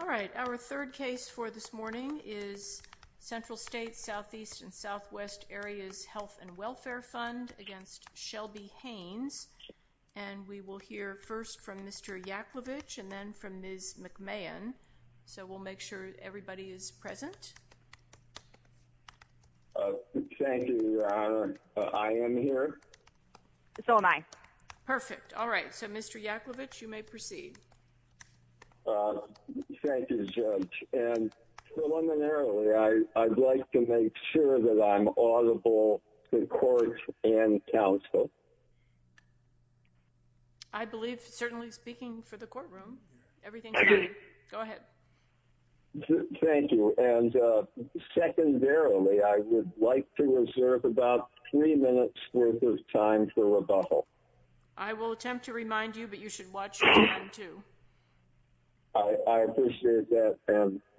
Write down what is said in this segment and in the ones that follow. All right. Our third case for this morning is Central States Southeast and Southwest Areas Health and Welfare Fund against Shelby Haynes. And we will hear first from Mr. Yaklovich and then from Ms. McMahon. So we'll make sure everybody is present. Thank you, Your Honor. I am here. So am I. Perfect. All right. So, Mr. Yaklovich, you may proceed. Thank you, Judge. And preliminarily, I'd like to make sure that I'm audible in court and counsel. I believe, certainly speaking for the courtroom, everything's fine. Go ahead. Thank you. And secondarily, I would like to reserve about three minutes worth of time for rebuttal. I will attempt to remind you, but you should watch your time, too. I appreciate that.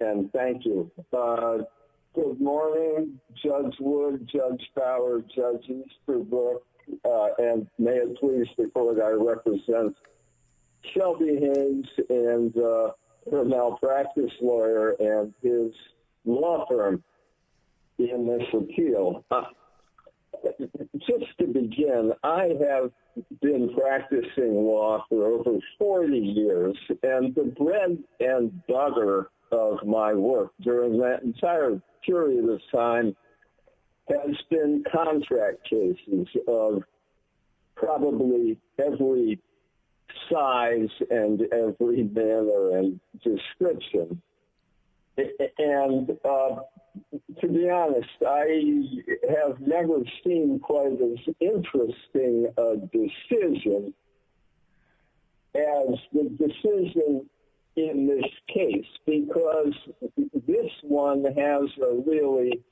And thank you. Good morning, Judge Wood, Judge Fowler, Judge Easterbrook. And may it please the court, I represent Shelby Haynes and her malpractice lawyer and his law firm in this appeal. Just to begin, I have been practicing law for over 40 years. And the bread and butter of my work during that entire period of time has been contract cases of probably every size and every manner and description. And to be honest, I have never seen quite as interesting a decision as the decision in this case, because this one has a really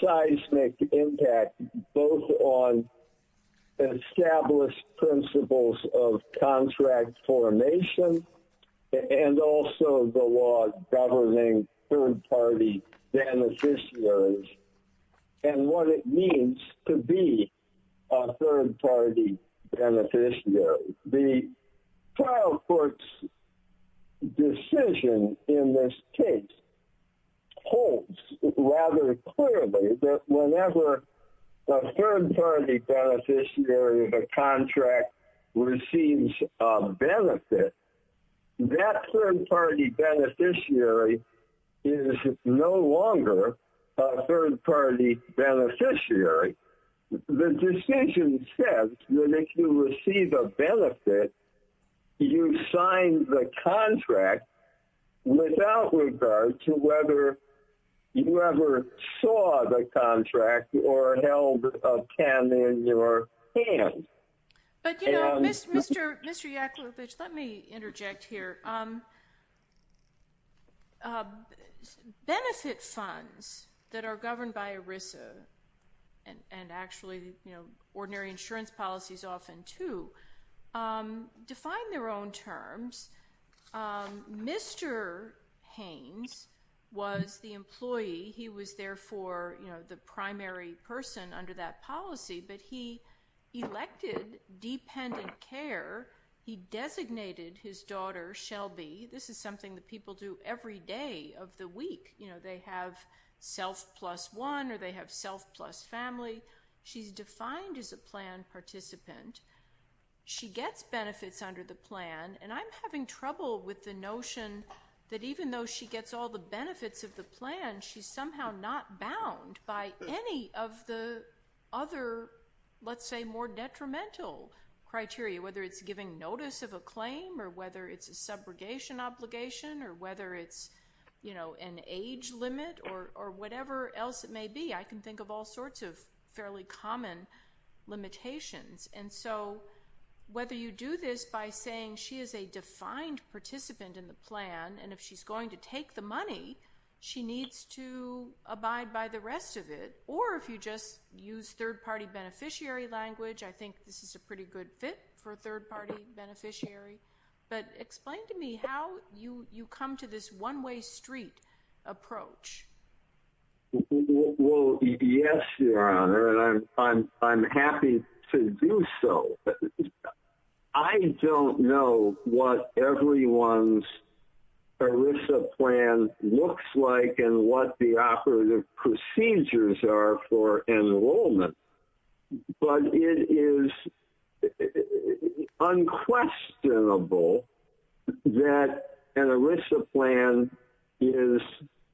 seismic impact both on established principles of contract formation and also the law governing third party beneficiaries and what it means to be a third party beneficiary. The trial court's decision in this case holds rather clearly that whenever a third party beneficiary of a contract receives a benefit, that third party beneficiary is no longer a third party beneficiary. The decision says that if you receive a benefit, you sign the contract without regard to whether you ever saw the contract or held a pen in your hand. But, you know, Mr. Yakubovich, let me interject here. Benefit funds that are governed by ERISA and actually ordinary insurance policies often, too, define their own terms. Mr. Haynes was the employee. He was, therefore, the primary person under that policy, but he elected dependent care. He designated his daughter, Shelby. This is something that people do every day of the week. You know, they have self plus one or they have self plus family. She's defined as a plan participant. She gets benefits under the plan, and I'm having trouble with the notion that even though she gets all the benefits of the plan, she's somehow not bound by any of the other, let's say, more detrimental criteria, whether it's giving notice of a claim or whether it's a subrogation obligation or whether it's, you know, an age limit or whatever else it may be. I can think of all sorts of fairly common limitations. And so whether you do this by saying she is a defined participant in the plan and if she's going to take the money, she needs to abide by the rest of it, or if you just use third party beneficiary language, I think this is a pretty good fit for a third party beneficiary. But explain to me how you come to this one way street approach. So, yes, Your Honor, and I'm happy to do so. I don't know what everyone's ERISA plan looks like and what the operative procedures are for enrollment. But it is unquestionable that an ERISA plan is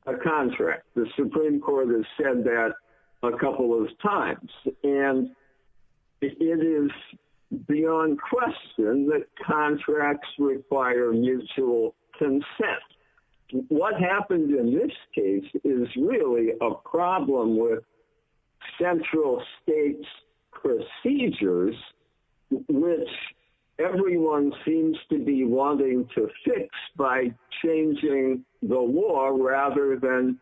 a contract. The Supreme Court has said that a couple of times. And it is beyond question that contracts require mutual consent. What happened in this case is really a problem with central states procedures, which everyone seems to be wanting to fix by changing the law rather than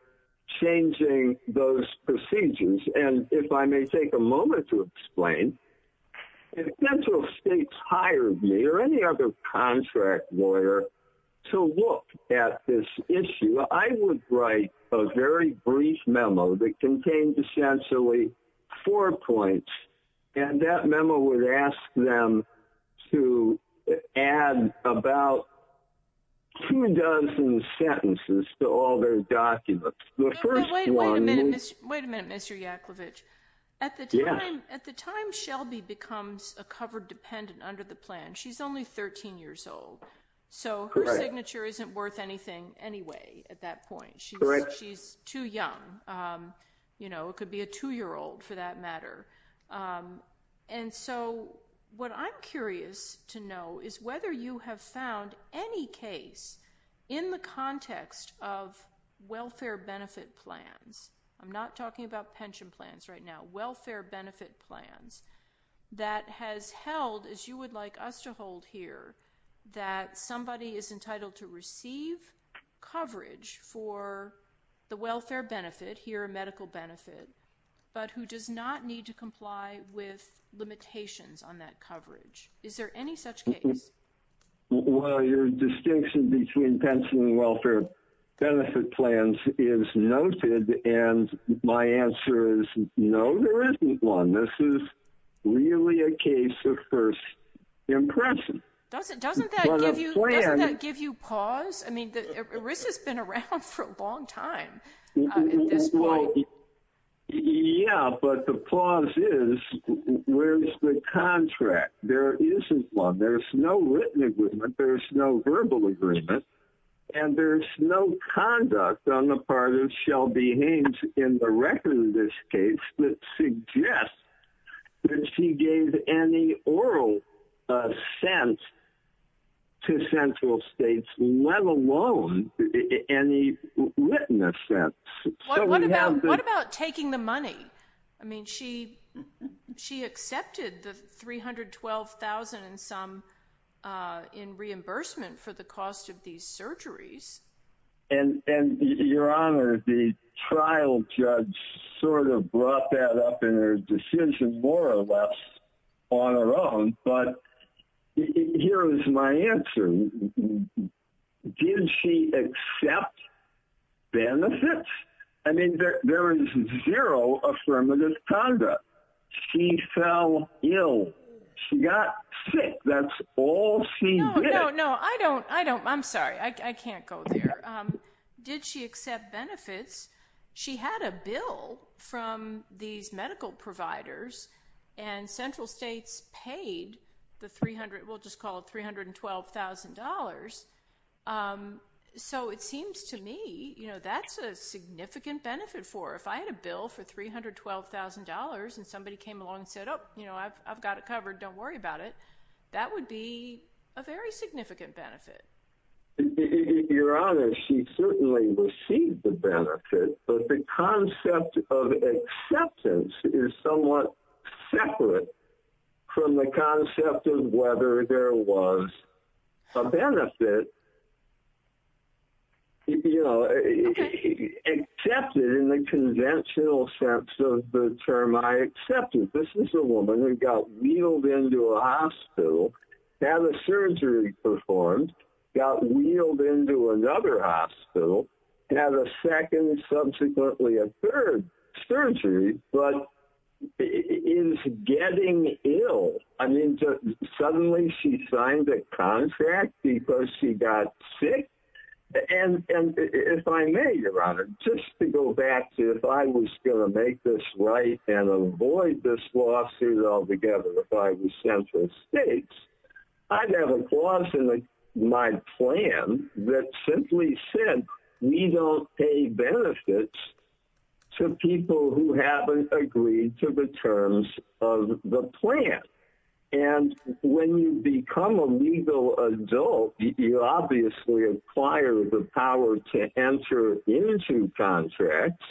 changing those procedures. And if I may take a moment to explain, if central states hired me or any other contract lawyer to look at this issue, I would write a very brief memo that contained essentially four points. And that memo would ask them to add about two dozen sentences to all their documents. Wait a minute, Mr. Yakovitch. At the time, at the time, Shelby becomes a covered dependent under the plan. She's only 13 years old. So her signature isn't worth anything anyway. At that point, she's right. She's too young. You know, it could be a two year old for that matter. And so what I'm curious to know is whether you have found any case in the context of welfare benefit plans. I'm not talking about pension plans right now. Welfare benefit plans that has held, as you would like us to hold here, that somebody is entitled to receive coverage for the welfare benefit here, a medical benefit, but who does not need to comply with limitations on that coverage. Is there any such case? Well, your distinction between pension and welfare benefit plans is noted. And my answer is no, there isn't one. This is really a case of first impression. Doesn't that give you pause? I mean, ERISA's been around for a long time at this point. Yeah, but the pause is, where's the contract? There isn't one. There's no written agreement. There's no verbal agreement. And there's no conduct on the part of Shelby Haynes in the record in this case that suggests that she gave any oral assent to central states, let alone any written assent. What about taking the money? I mean, she accepted the $312,000 and some in reimbursement for the cost of these surgeries. And your honor, the trial judge sort of brought that up in her decision more or less on her own. But here is my answer. Did she accept benefits? I mean, there is zero affirmative conduct. She fell ill. She got sick. That's all she did. No, no, no. I don't, I don't, I'm sorry. I can't go there. Did she accept benefits? She had a bill from these medical providers and central states paid the 300, we'll just call it $312,000. So it seems to me, you know, that's a significant benefit for her. If I had a bill for $312,000 and somebody came along and said, oh, you know, I've got it covered. Don't worry about it. That would be a very significant benefit. Your honor, she certainly received the benefit, but the concept of acceptance is somewhat separate from the concept of whether there was a benefit, you know, accepted in the conventional sense of the term I accepted. This is a woman who got wheeled into a hospital, had a surgery performed, got wheeled into another hospital, had a second and subsequently a third surgery, but is getting ill. I mean, suddenly she signed a contract because she got sick. And if I may, your honor, just to go back to if I was going to make this right and avoid this lawsuit altogether, if I was central states, I'd have a clause in my plan that simply said, we don't pay benefits to people who haven't agreed to the terms of the plan. And when you become a legal adult, you obviously acquire the power to enter into contracts.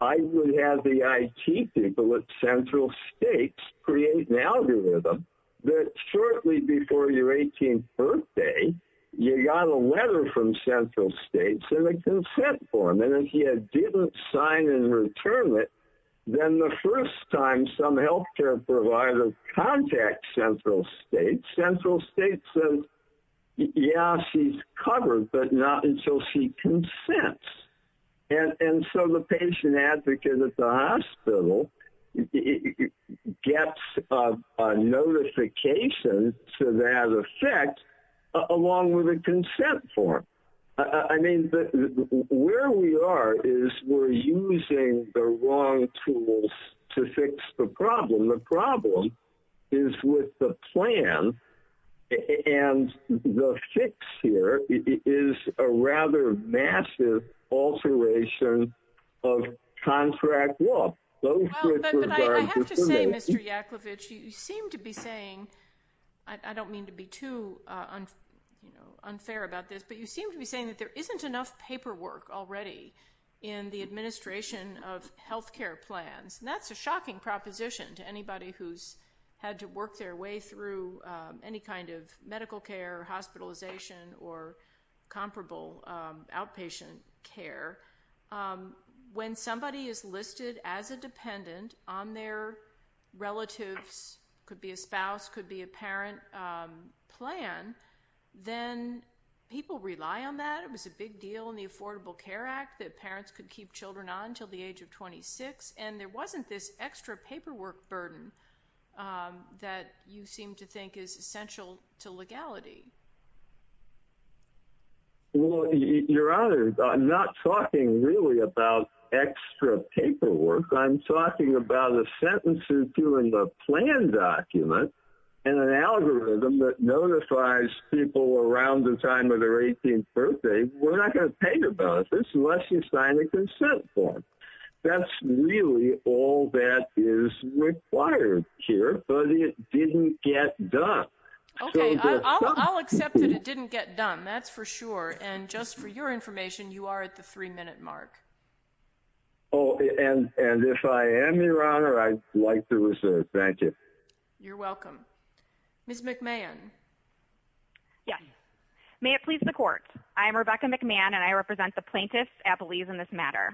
I would have the IT people at central states create an algorithm that shortly before your 18th birthday, you got a letter from central states and a consent form, and if you didn't sign and return it, then the first time some healthcare provider contacts central states, central states says, yeah, she's covered, but not until she consents. And so the patient advocate at the hospital gets a notification to that effect along with a consent form. I mean, where we are is we're using the wrong tools to fix the problem. The problem is with the plan, and the fix here is a rather massive alteration of contract law. But I have to say, Mr. Yakovitch, you seem to be saying, I don't mean to be too unfair about this, but you seem to be saying that there isn't enough paperwork already in the administration of healthcare plans, and that's a shocking proposition to anybody who's had to work their way through any kind of medical care, hospitalization, or comparable outpatient care. When somebody is listed as a dependent on their relatives, could be a spouse, could be a parent plan, then people rely on that. It was a big deal in the Affordable Care Act that parents could keep children on until the age of 26, and there wasn't this extra paperwork burden that you seem to think is essential to legality. Well, Your Honor, I'm not talking really about extra paperwork. I'm talking about a sentence or two in the plan document, and an algorithm that notifies people around the time of their 18th birthday, we're not going to pay you about this unless you sign a consent form. That's really all that is required here, but it didn't get done. Okay, I'll accept that it didn't get done, that's for sure. And just for your information, you are at the three-minute mark. Oh, and if I am, Your Honor, I'd like to reserve. Thank you. You're welcome. Yes. May it please the Court. I am Rebecca McMahon, and I represent the plaintiffs' appellees in this matter.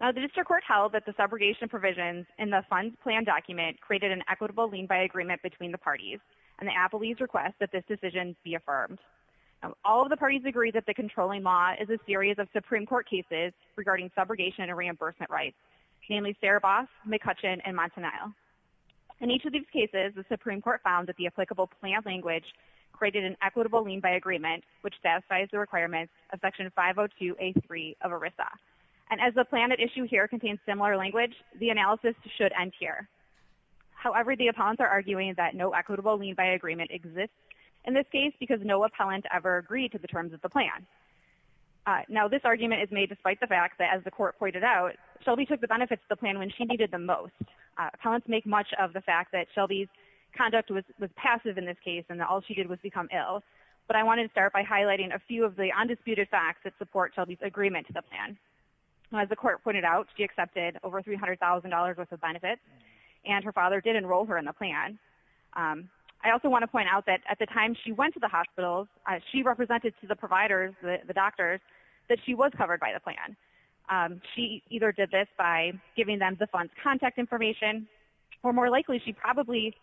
Now, the district court held that the subrogation provisions in the funds plan document created an equitable lien-by agreement between the parties, and the appellees request that this decision be affirmed. All of the parties agree that the controlling law is a series of Supreme Court cases regarding subrogation and reimbursement rights, namely Saraboff, McCutcheon, and Montanile. In each of these cases, the Supreme Court found that the applicable plan language created an equitable lien-by agreement, which satisfies the requirements of Section 502A3 of ERISA. And as the plan at issue here contains similar language, the analysis should end here. However, the appellants are arguing that no equitable lien-by agreement exists in this case because no appellant ever agreed to the terms of the plan. Now, this argument is made despite the fact that, as the Court pointed out, Shelby took the benefits of the plan when she needed them most. Appellants make much of the fact that Shelby's conduct was passive in this case and that all she did was become ill. But I wanted to start by highlighting a few of the undisputed facts that support Shelby's agreement to the plan. As the Court pointed out, she accepted over $300,000 worth of benefits, and her father did enroll her in the plan. I also want to point out that at the time she went to the hospital, she represented to the providers, the doctors, that she was covered by the plan. She either did this by giving them the fund's contact information, or more likely she probably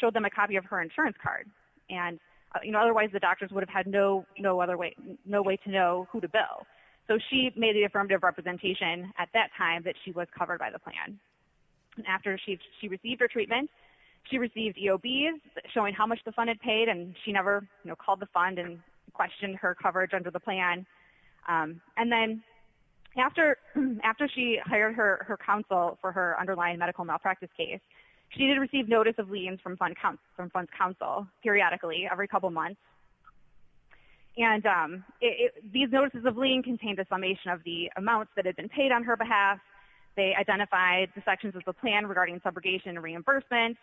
showed them a copy of her insurance card. Otherwise, the doctors would have had no way to know who to bill. So she made the affirmative representation at that time that she was covered by the plan. After she received her treatment, she received EOBs showing how much the fund had paid, and she never called the fund and questioned her coverage under the plan. And then after she hired her counsel for her underlying medical malpractice case, she did receive notice of liens from fund's counsel periodically, every couple months. And these notices of lien contained a summation of the amounts that had been paid on her behalf. They identified the sections of the plan regarding subrogation and reimbursement.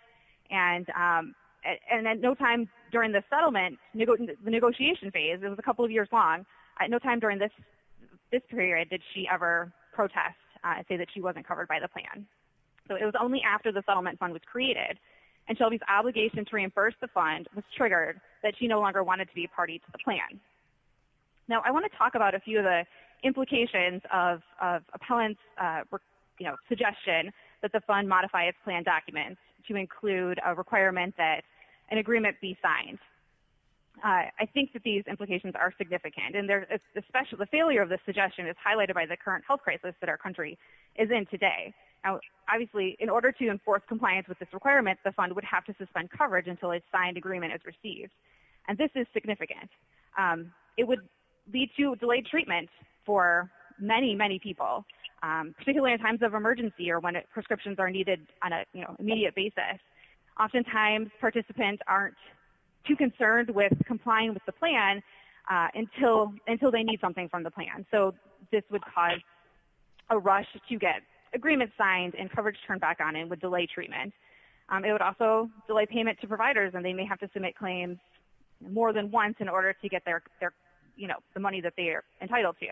And at no time during the settlement, the negotiation phase, it was a couple of years long, at no time during this period did she ever protest and say that she wasn't covered by the plan. So it was only after the settlement fund was created and Shelby's obligation to reimburse the fund was triggered that she no longer wanted to be a party to the plan. Now I want to talk about a few of the implications of appellants' suggestion that the fund modify its plan documents to include a requirement that an agreement be signed. I think that these implications are significant. And the failure of this suggestion is highlighted by the current health crisis that our country is in today. Obviously, in order to enforce compliance with this requirement, the fund would have to suspend coverage until a signed agreement is received. And this is significant. It would lead to delayed treatment for many, many people, particularly in times of emergency or when prescriptions are needed on an immediate basis. Oftentimes, participants aren't too concerned with complying with the plan until they need something from the plan. So this would cause a rush to get agreements signed and coverage turned back on and would delay treatment. It would also delay payment to providers, and they may have to submit claims more than once in order to get the money that they are entitled to.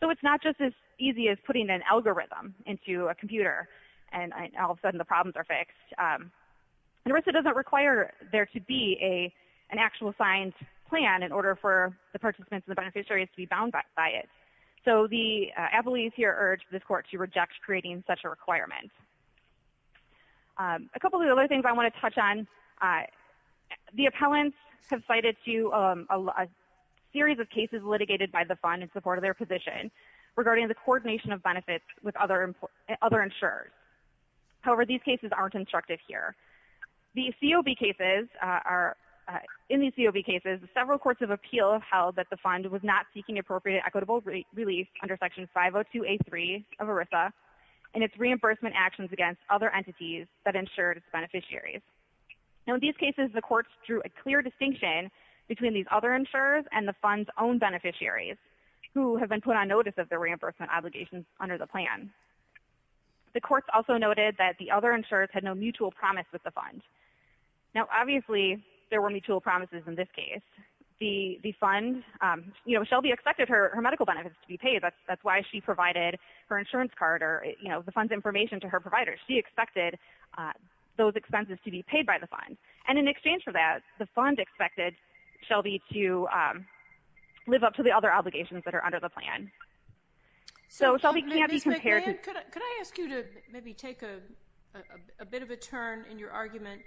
So it's not just as easy as putting an algorithm into a computer and all of a sudden the problems are fixed. And RISA doesn't require there to be an actual signed plan in order for the participants and the beneficiaries to be bound by it. So the appellees here urge this court to reject creating such a requirement. A couple of other things I want to touch on. The appellants have cited a series of cases litigated by the fund in support of their position regarding the coordination of benefits with other insurers. However, these cases aren't instructive here. In these COB cases, several courts of appeal held that the fund was not seeking appropriate equitable relief under Section 502A3 of RISA and its reimbursement actions against other entities that insured its beneficiaries. In these cases, the courts drew a clear distinction between these other insurers and the fund's own beneficiaries, who have been put on notice of their reimbursement obligations under the plan. The courts also noted that the other insurers had no mutual promise with the fund. Now, obviously, there were mutual promises in this case. Shelby expected her medical benefits to be paid. That's why she provided her insurance card or the fund's information to her provider. She expected those expenses to be paid by the fund. And in exchange for that, the fund expected Shelby to live up to the other obligations that are under the plan. So Shelby can't be compared to the other insurers. Ms. McMahon, could I ask you to maybe take a bit of a turn in your argument?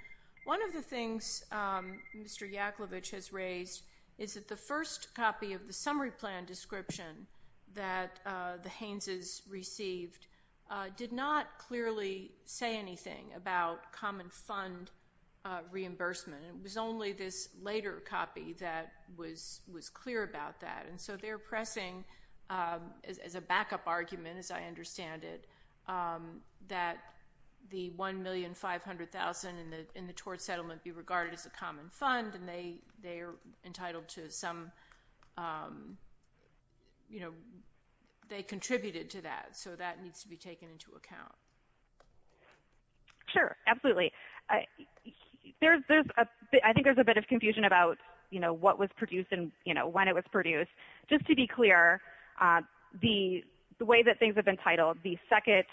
One of the things Mr. Yaklovich has raised is that the first copy of the summary plan description that the Haynes' received did not clearly say anything about common fund reimbursement. It was only this later copy that was clear about that. And so they're pressing as a backup argument, as I understand it, that the $1,500,000 in the tort settlement be regarded as a common fund, and they contributed to that. So that needs to be taken into account. Sure, absolutely. I think there's a bit of confusion about what was produced and when it was produced. Just to be clear, the way that things have been titled, the second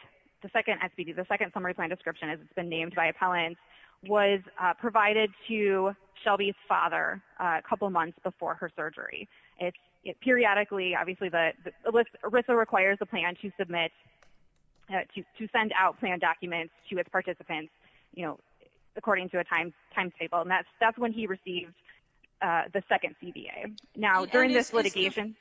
summary plan description, as it's been named by appellants, was provided to Shelby's father a couple months before her surgery. Periodically, obviously, ERISA requires a plan to submit, to send out plan documents to its participants, you know, according to a timetable. And that's when he received the second CBA. Now, during this litigation ----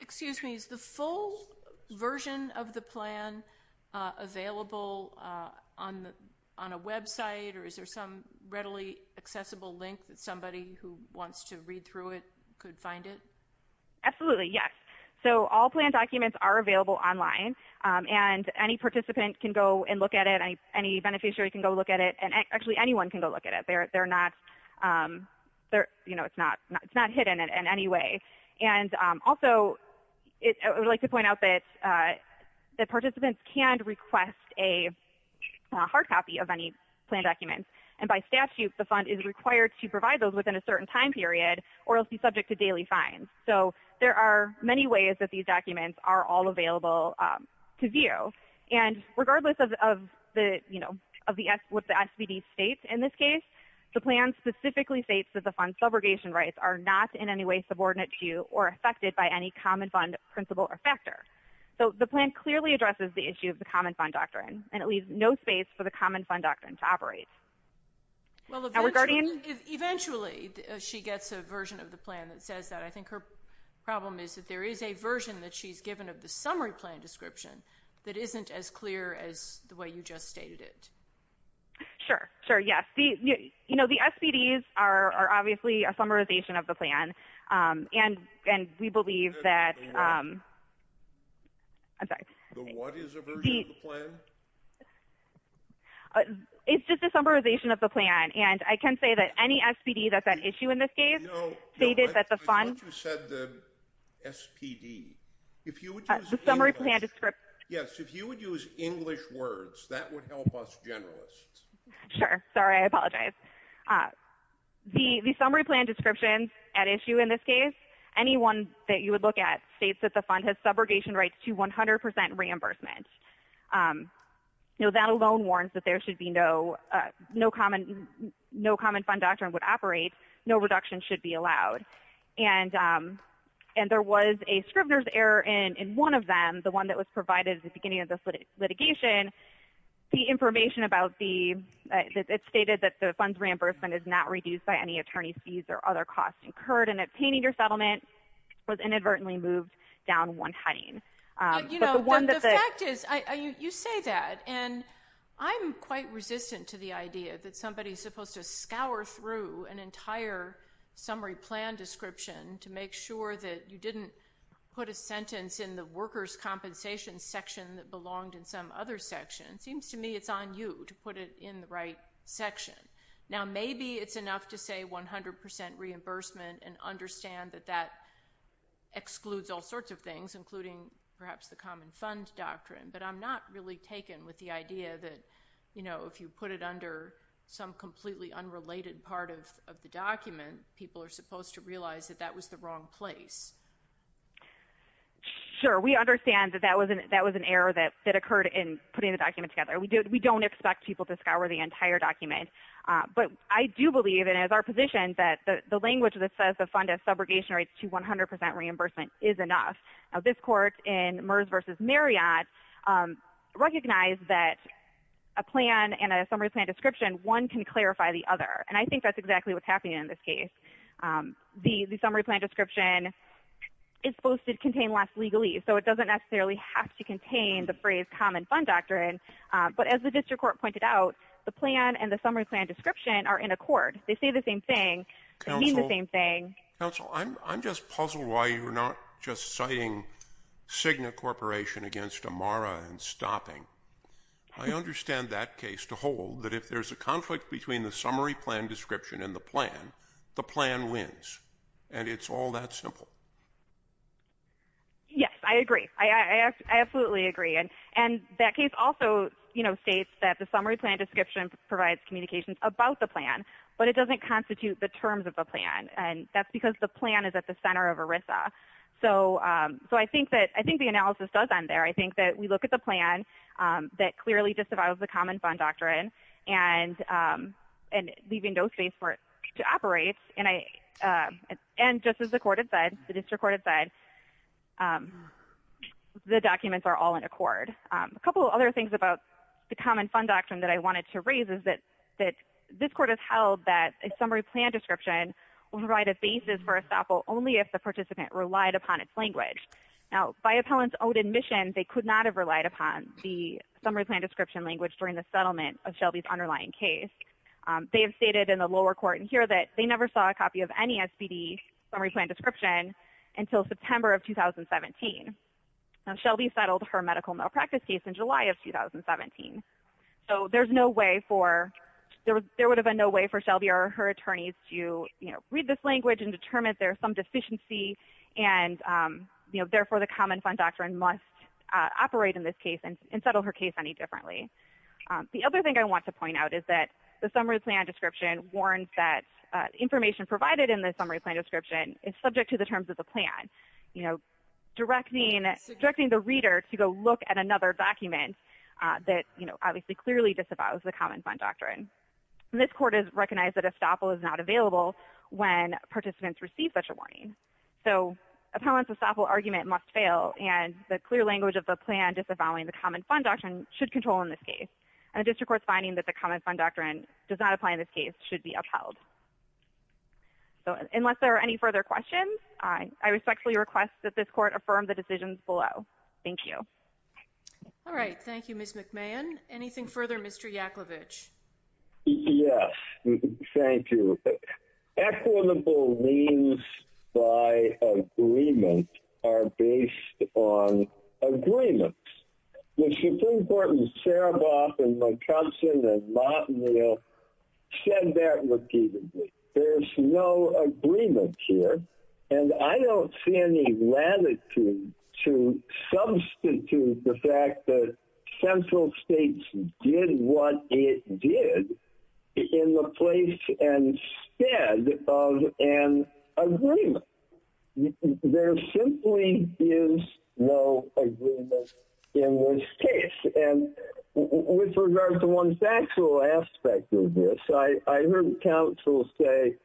Is there a readily accessible link that somebody who wants to read through it could find it? Absolutely, yes. So all plan documents are available online, and any participant can go and look at it, any beneficiary can go look at it, and actually anyone can go look at it. They're not, you know, it's not hidden in any way. Also, I would like to point out that participants can request a hard copy of any plan documents, and by statute the fund is required to provide those within a certain time period or else be subject to daily fines. So there are many ways that these documents are all available to view. And regardless of what the SBD states in this case, the plan specifically states that the fund's subrogation rights are not in any way subordinate to or affected by any common fund principle or factor. So the plan clearly addresses the issue of the common fund doctrine, and it leaves no space for the common fund doctrine to operate. Well, eventually she gets a version of the plan that says that. I think her problem is that there is a version that she's given of the summary plan description that isn't as clear as the way you just stated it. Sure, sure, yes. You know, the SBDs are obviously a summarization of the plan, and we believe that. The what? I'm sorry. The what is a version of the plan? It's just a summarization of the plan. And I can say that any SBD that's at issue in this case stated that the fund. No, I thought you said the SPD. The summary plan description. Yes, if you would use English words, that would help us generalists. Sure. Sorry, I apologize. The summary plan description at issue in this case, anyone that you would look at, states that the fund has subrogation rights to 100% reimbursement. You know, that alone warns that there should be no common fund doctrine would operate, no reduction should be allowed. And there was a Scrivener's error in one of them, the one that was provided at the beginning of this litigation. The information about the, it stated that the funds reimbursement is not reduced by any attorney's fees or other costs incurred in obtaining your settlement was inadvertently moved down one heading. But the one that the. You know, the fact is, you say that, and I'm quite resistant to the idea that somebody's summary plan description to make sure that you didn't put a sentence in the workers' compensation section that belonged in some other section. It seems to me it's on you to put it in the right section. Now, maybe it's enough to say 100% reimbursement and understand that that excludes all sorts of things, including perhaps the common fund doctrine. But I'm not really taken with the idea that, you know, if you put it under some completely unrelated part of the document, people are supposed to realize that that was the wrong place. Sure. We understand that that was an error that occurred in putting the document together. We don't expect people to scour the entire document. But I do believe, and it is our position, that the language that says the fund has subrogation rates to 100% reimbursement is enough. Now, this court in Merz v. Marriott recognized that a plan and a summary plan description, one can clarify the other. And I think that's exactly what's happening in this case. The summary plan description is supposed to contain less legalese, so it doesn't necessarily have to contain the phrase common fund doctrine. But as the district court pointed out, the plan and the summary plan description are in accord. They say the same thing. They mean the same thing. Counsel, I'm just puzzled why you're not just citing Cigna Corporation against Amara and stopping. I understand that case to hold that if there's a conflict between the summary plan description and the plan, the plan wins. And it's all that simple. Yes, I agree. I absolutely agree. And that case also states that the summary plan description provides communications about the plan, but it doesn't constitute the terms of the plan. And that's because the plan is at the center of ERISA. So I think the analysis does end there. I think that we look at the plan that clearly disavows the common fund doctrine and leaving no space for it to operate. And just as the court had said, the district court had said, the documents are all in accord. A couple of other things about the common fund doctrine that I wanted to raise is that this court has held that a summary plan description will provide a basis for estoppel only if the participant relied upon its language. Now, by appellant's own admission, they could not have relied upon the summary plan description language during the settlement of Shelby's underlying case. They have stated in the lower court in here that they never saw a copy of any SPD summary plan description until September of 2017. Now, Shelby settled her medical malpractice case in July of 2017. So there's no way for – there would have been no way for Shelby or her attorneys to, you know, read this language and determine there's some deficiency and, you know, therefore the common fund doctrine must operate in this case and settle her case any differently. The other thing I want to point out is that the summary plan description warns that information provided in the summary plan description is subject to the terms of the plan, you know, directing the reader to go look at another document that, you know, obviously clearly disavows the common fund doctrine. And this court has recognized that estoppel is not available when participants receive such a warning. So appellant's estoppel argument must fail and the clear language of the plan disavowing the common fund doctrine should control in this case. And the district court's finding that the common fund doctrine does not apply in this case should be upheld. So unless there are any further questions, I respectfully request that this court affirm the decisions below. Thank you. All right. Thank you, Ms. McMahon. Anything further, Mr. Yakovlevich? Yes. Thank you. Equitable means by agreement are based on agreements. The Supreme Court in Sarabov and McCutcheon and Mott and Neal said that repeatedly. There's no agreement here. And I don't see any latitude to substitute the fact that central states did what it did in the place instead of an agreement. There simply is no agreement in this case. And with regard to one factual aspect of this, I heard counsel say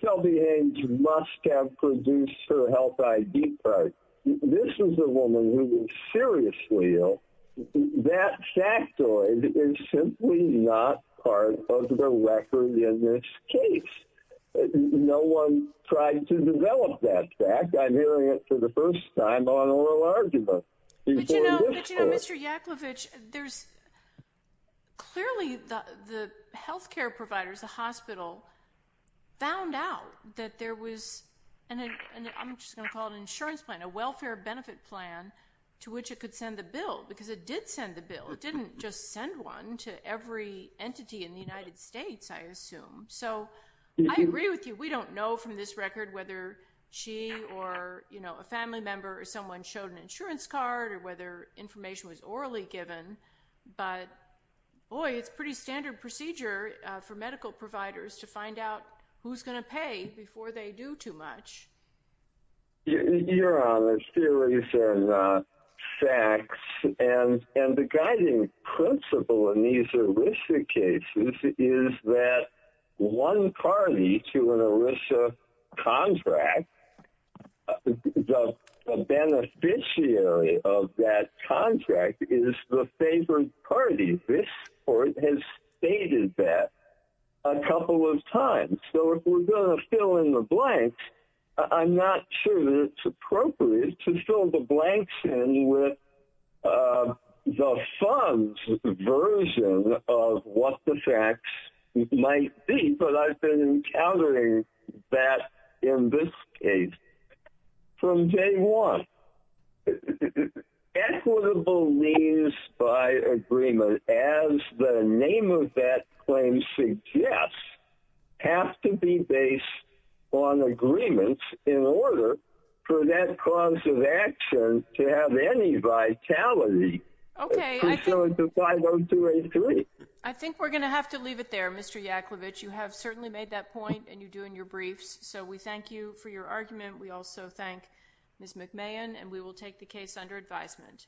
Shelby Haynes must have produced her health ID card. This is a woman who is seriously ill. That factoid is simply not part of the record in this case. No one tried to develop that fact. I'm hearing it for the first time on oral argument. But, you know, Mr. Yakovlevich, there's clearly the health care providers, the hospital, found out that there was an, I'm just going to call it an insurance plan, a welfare benefit plan to which it could send the bill because it did send the bill. It didn't just send one to every entity in the United States, I assume. So I agree with you. We don't know from this record whether she or, you know, a family member or someone showed an insurance card or whether information was orally given. But, boy, it's pretty standard procedure for medical providers to find out who's going to pay before they do too much. Your Honor, theories and facts. And the guiding principle in these ERISA cases is that one party to an ERISA contract, the beneficiary of that contract is the favored party. This court has stated that a couple of times. So if we're going to fill in the blanks, I'm not sure that it's appropriate to fill the blanks in with the fund's version of what the facts might be. But I've been encountering that in this case from day one. Equitable means by agreement, as the name of that claim suggests, have to be based on agreements in order for that cause of action to have any vitality. Okay. I think we're going to have to leave it there, Mr. Yakovitch. You have certainly made that point, and you do in your briefs. So we thank you for your argument. We also thank Ms. McMahan, and we will take the case under advisement.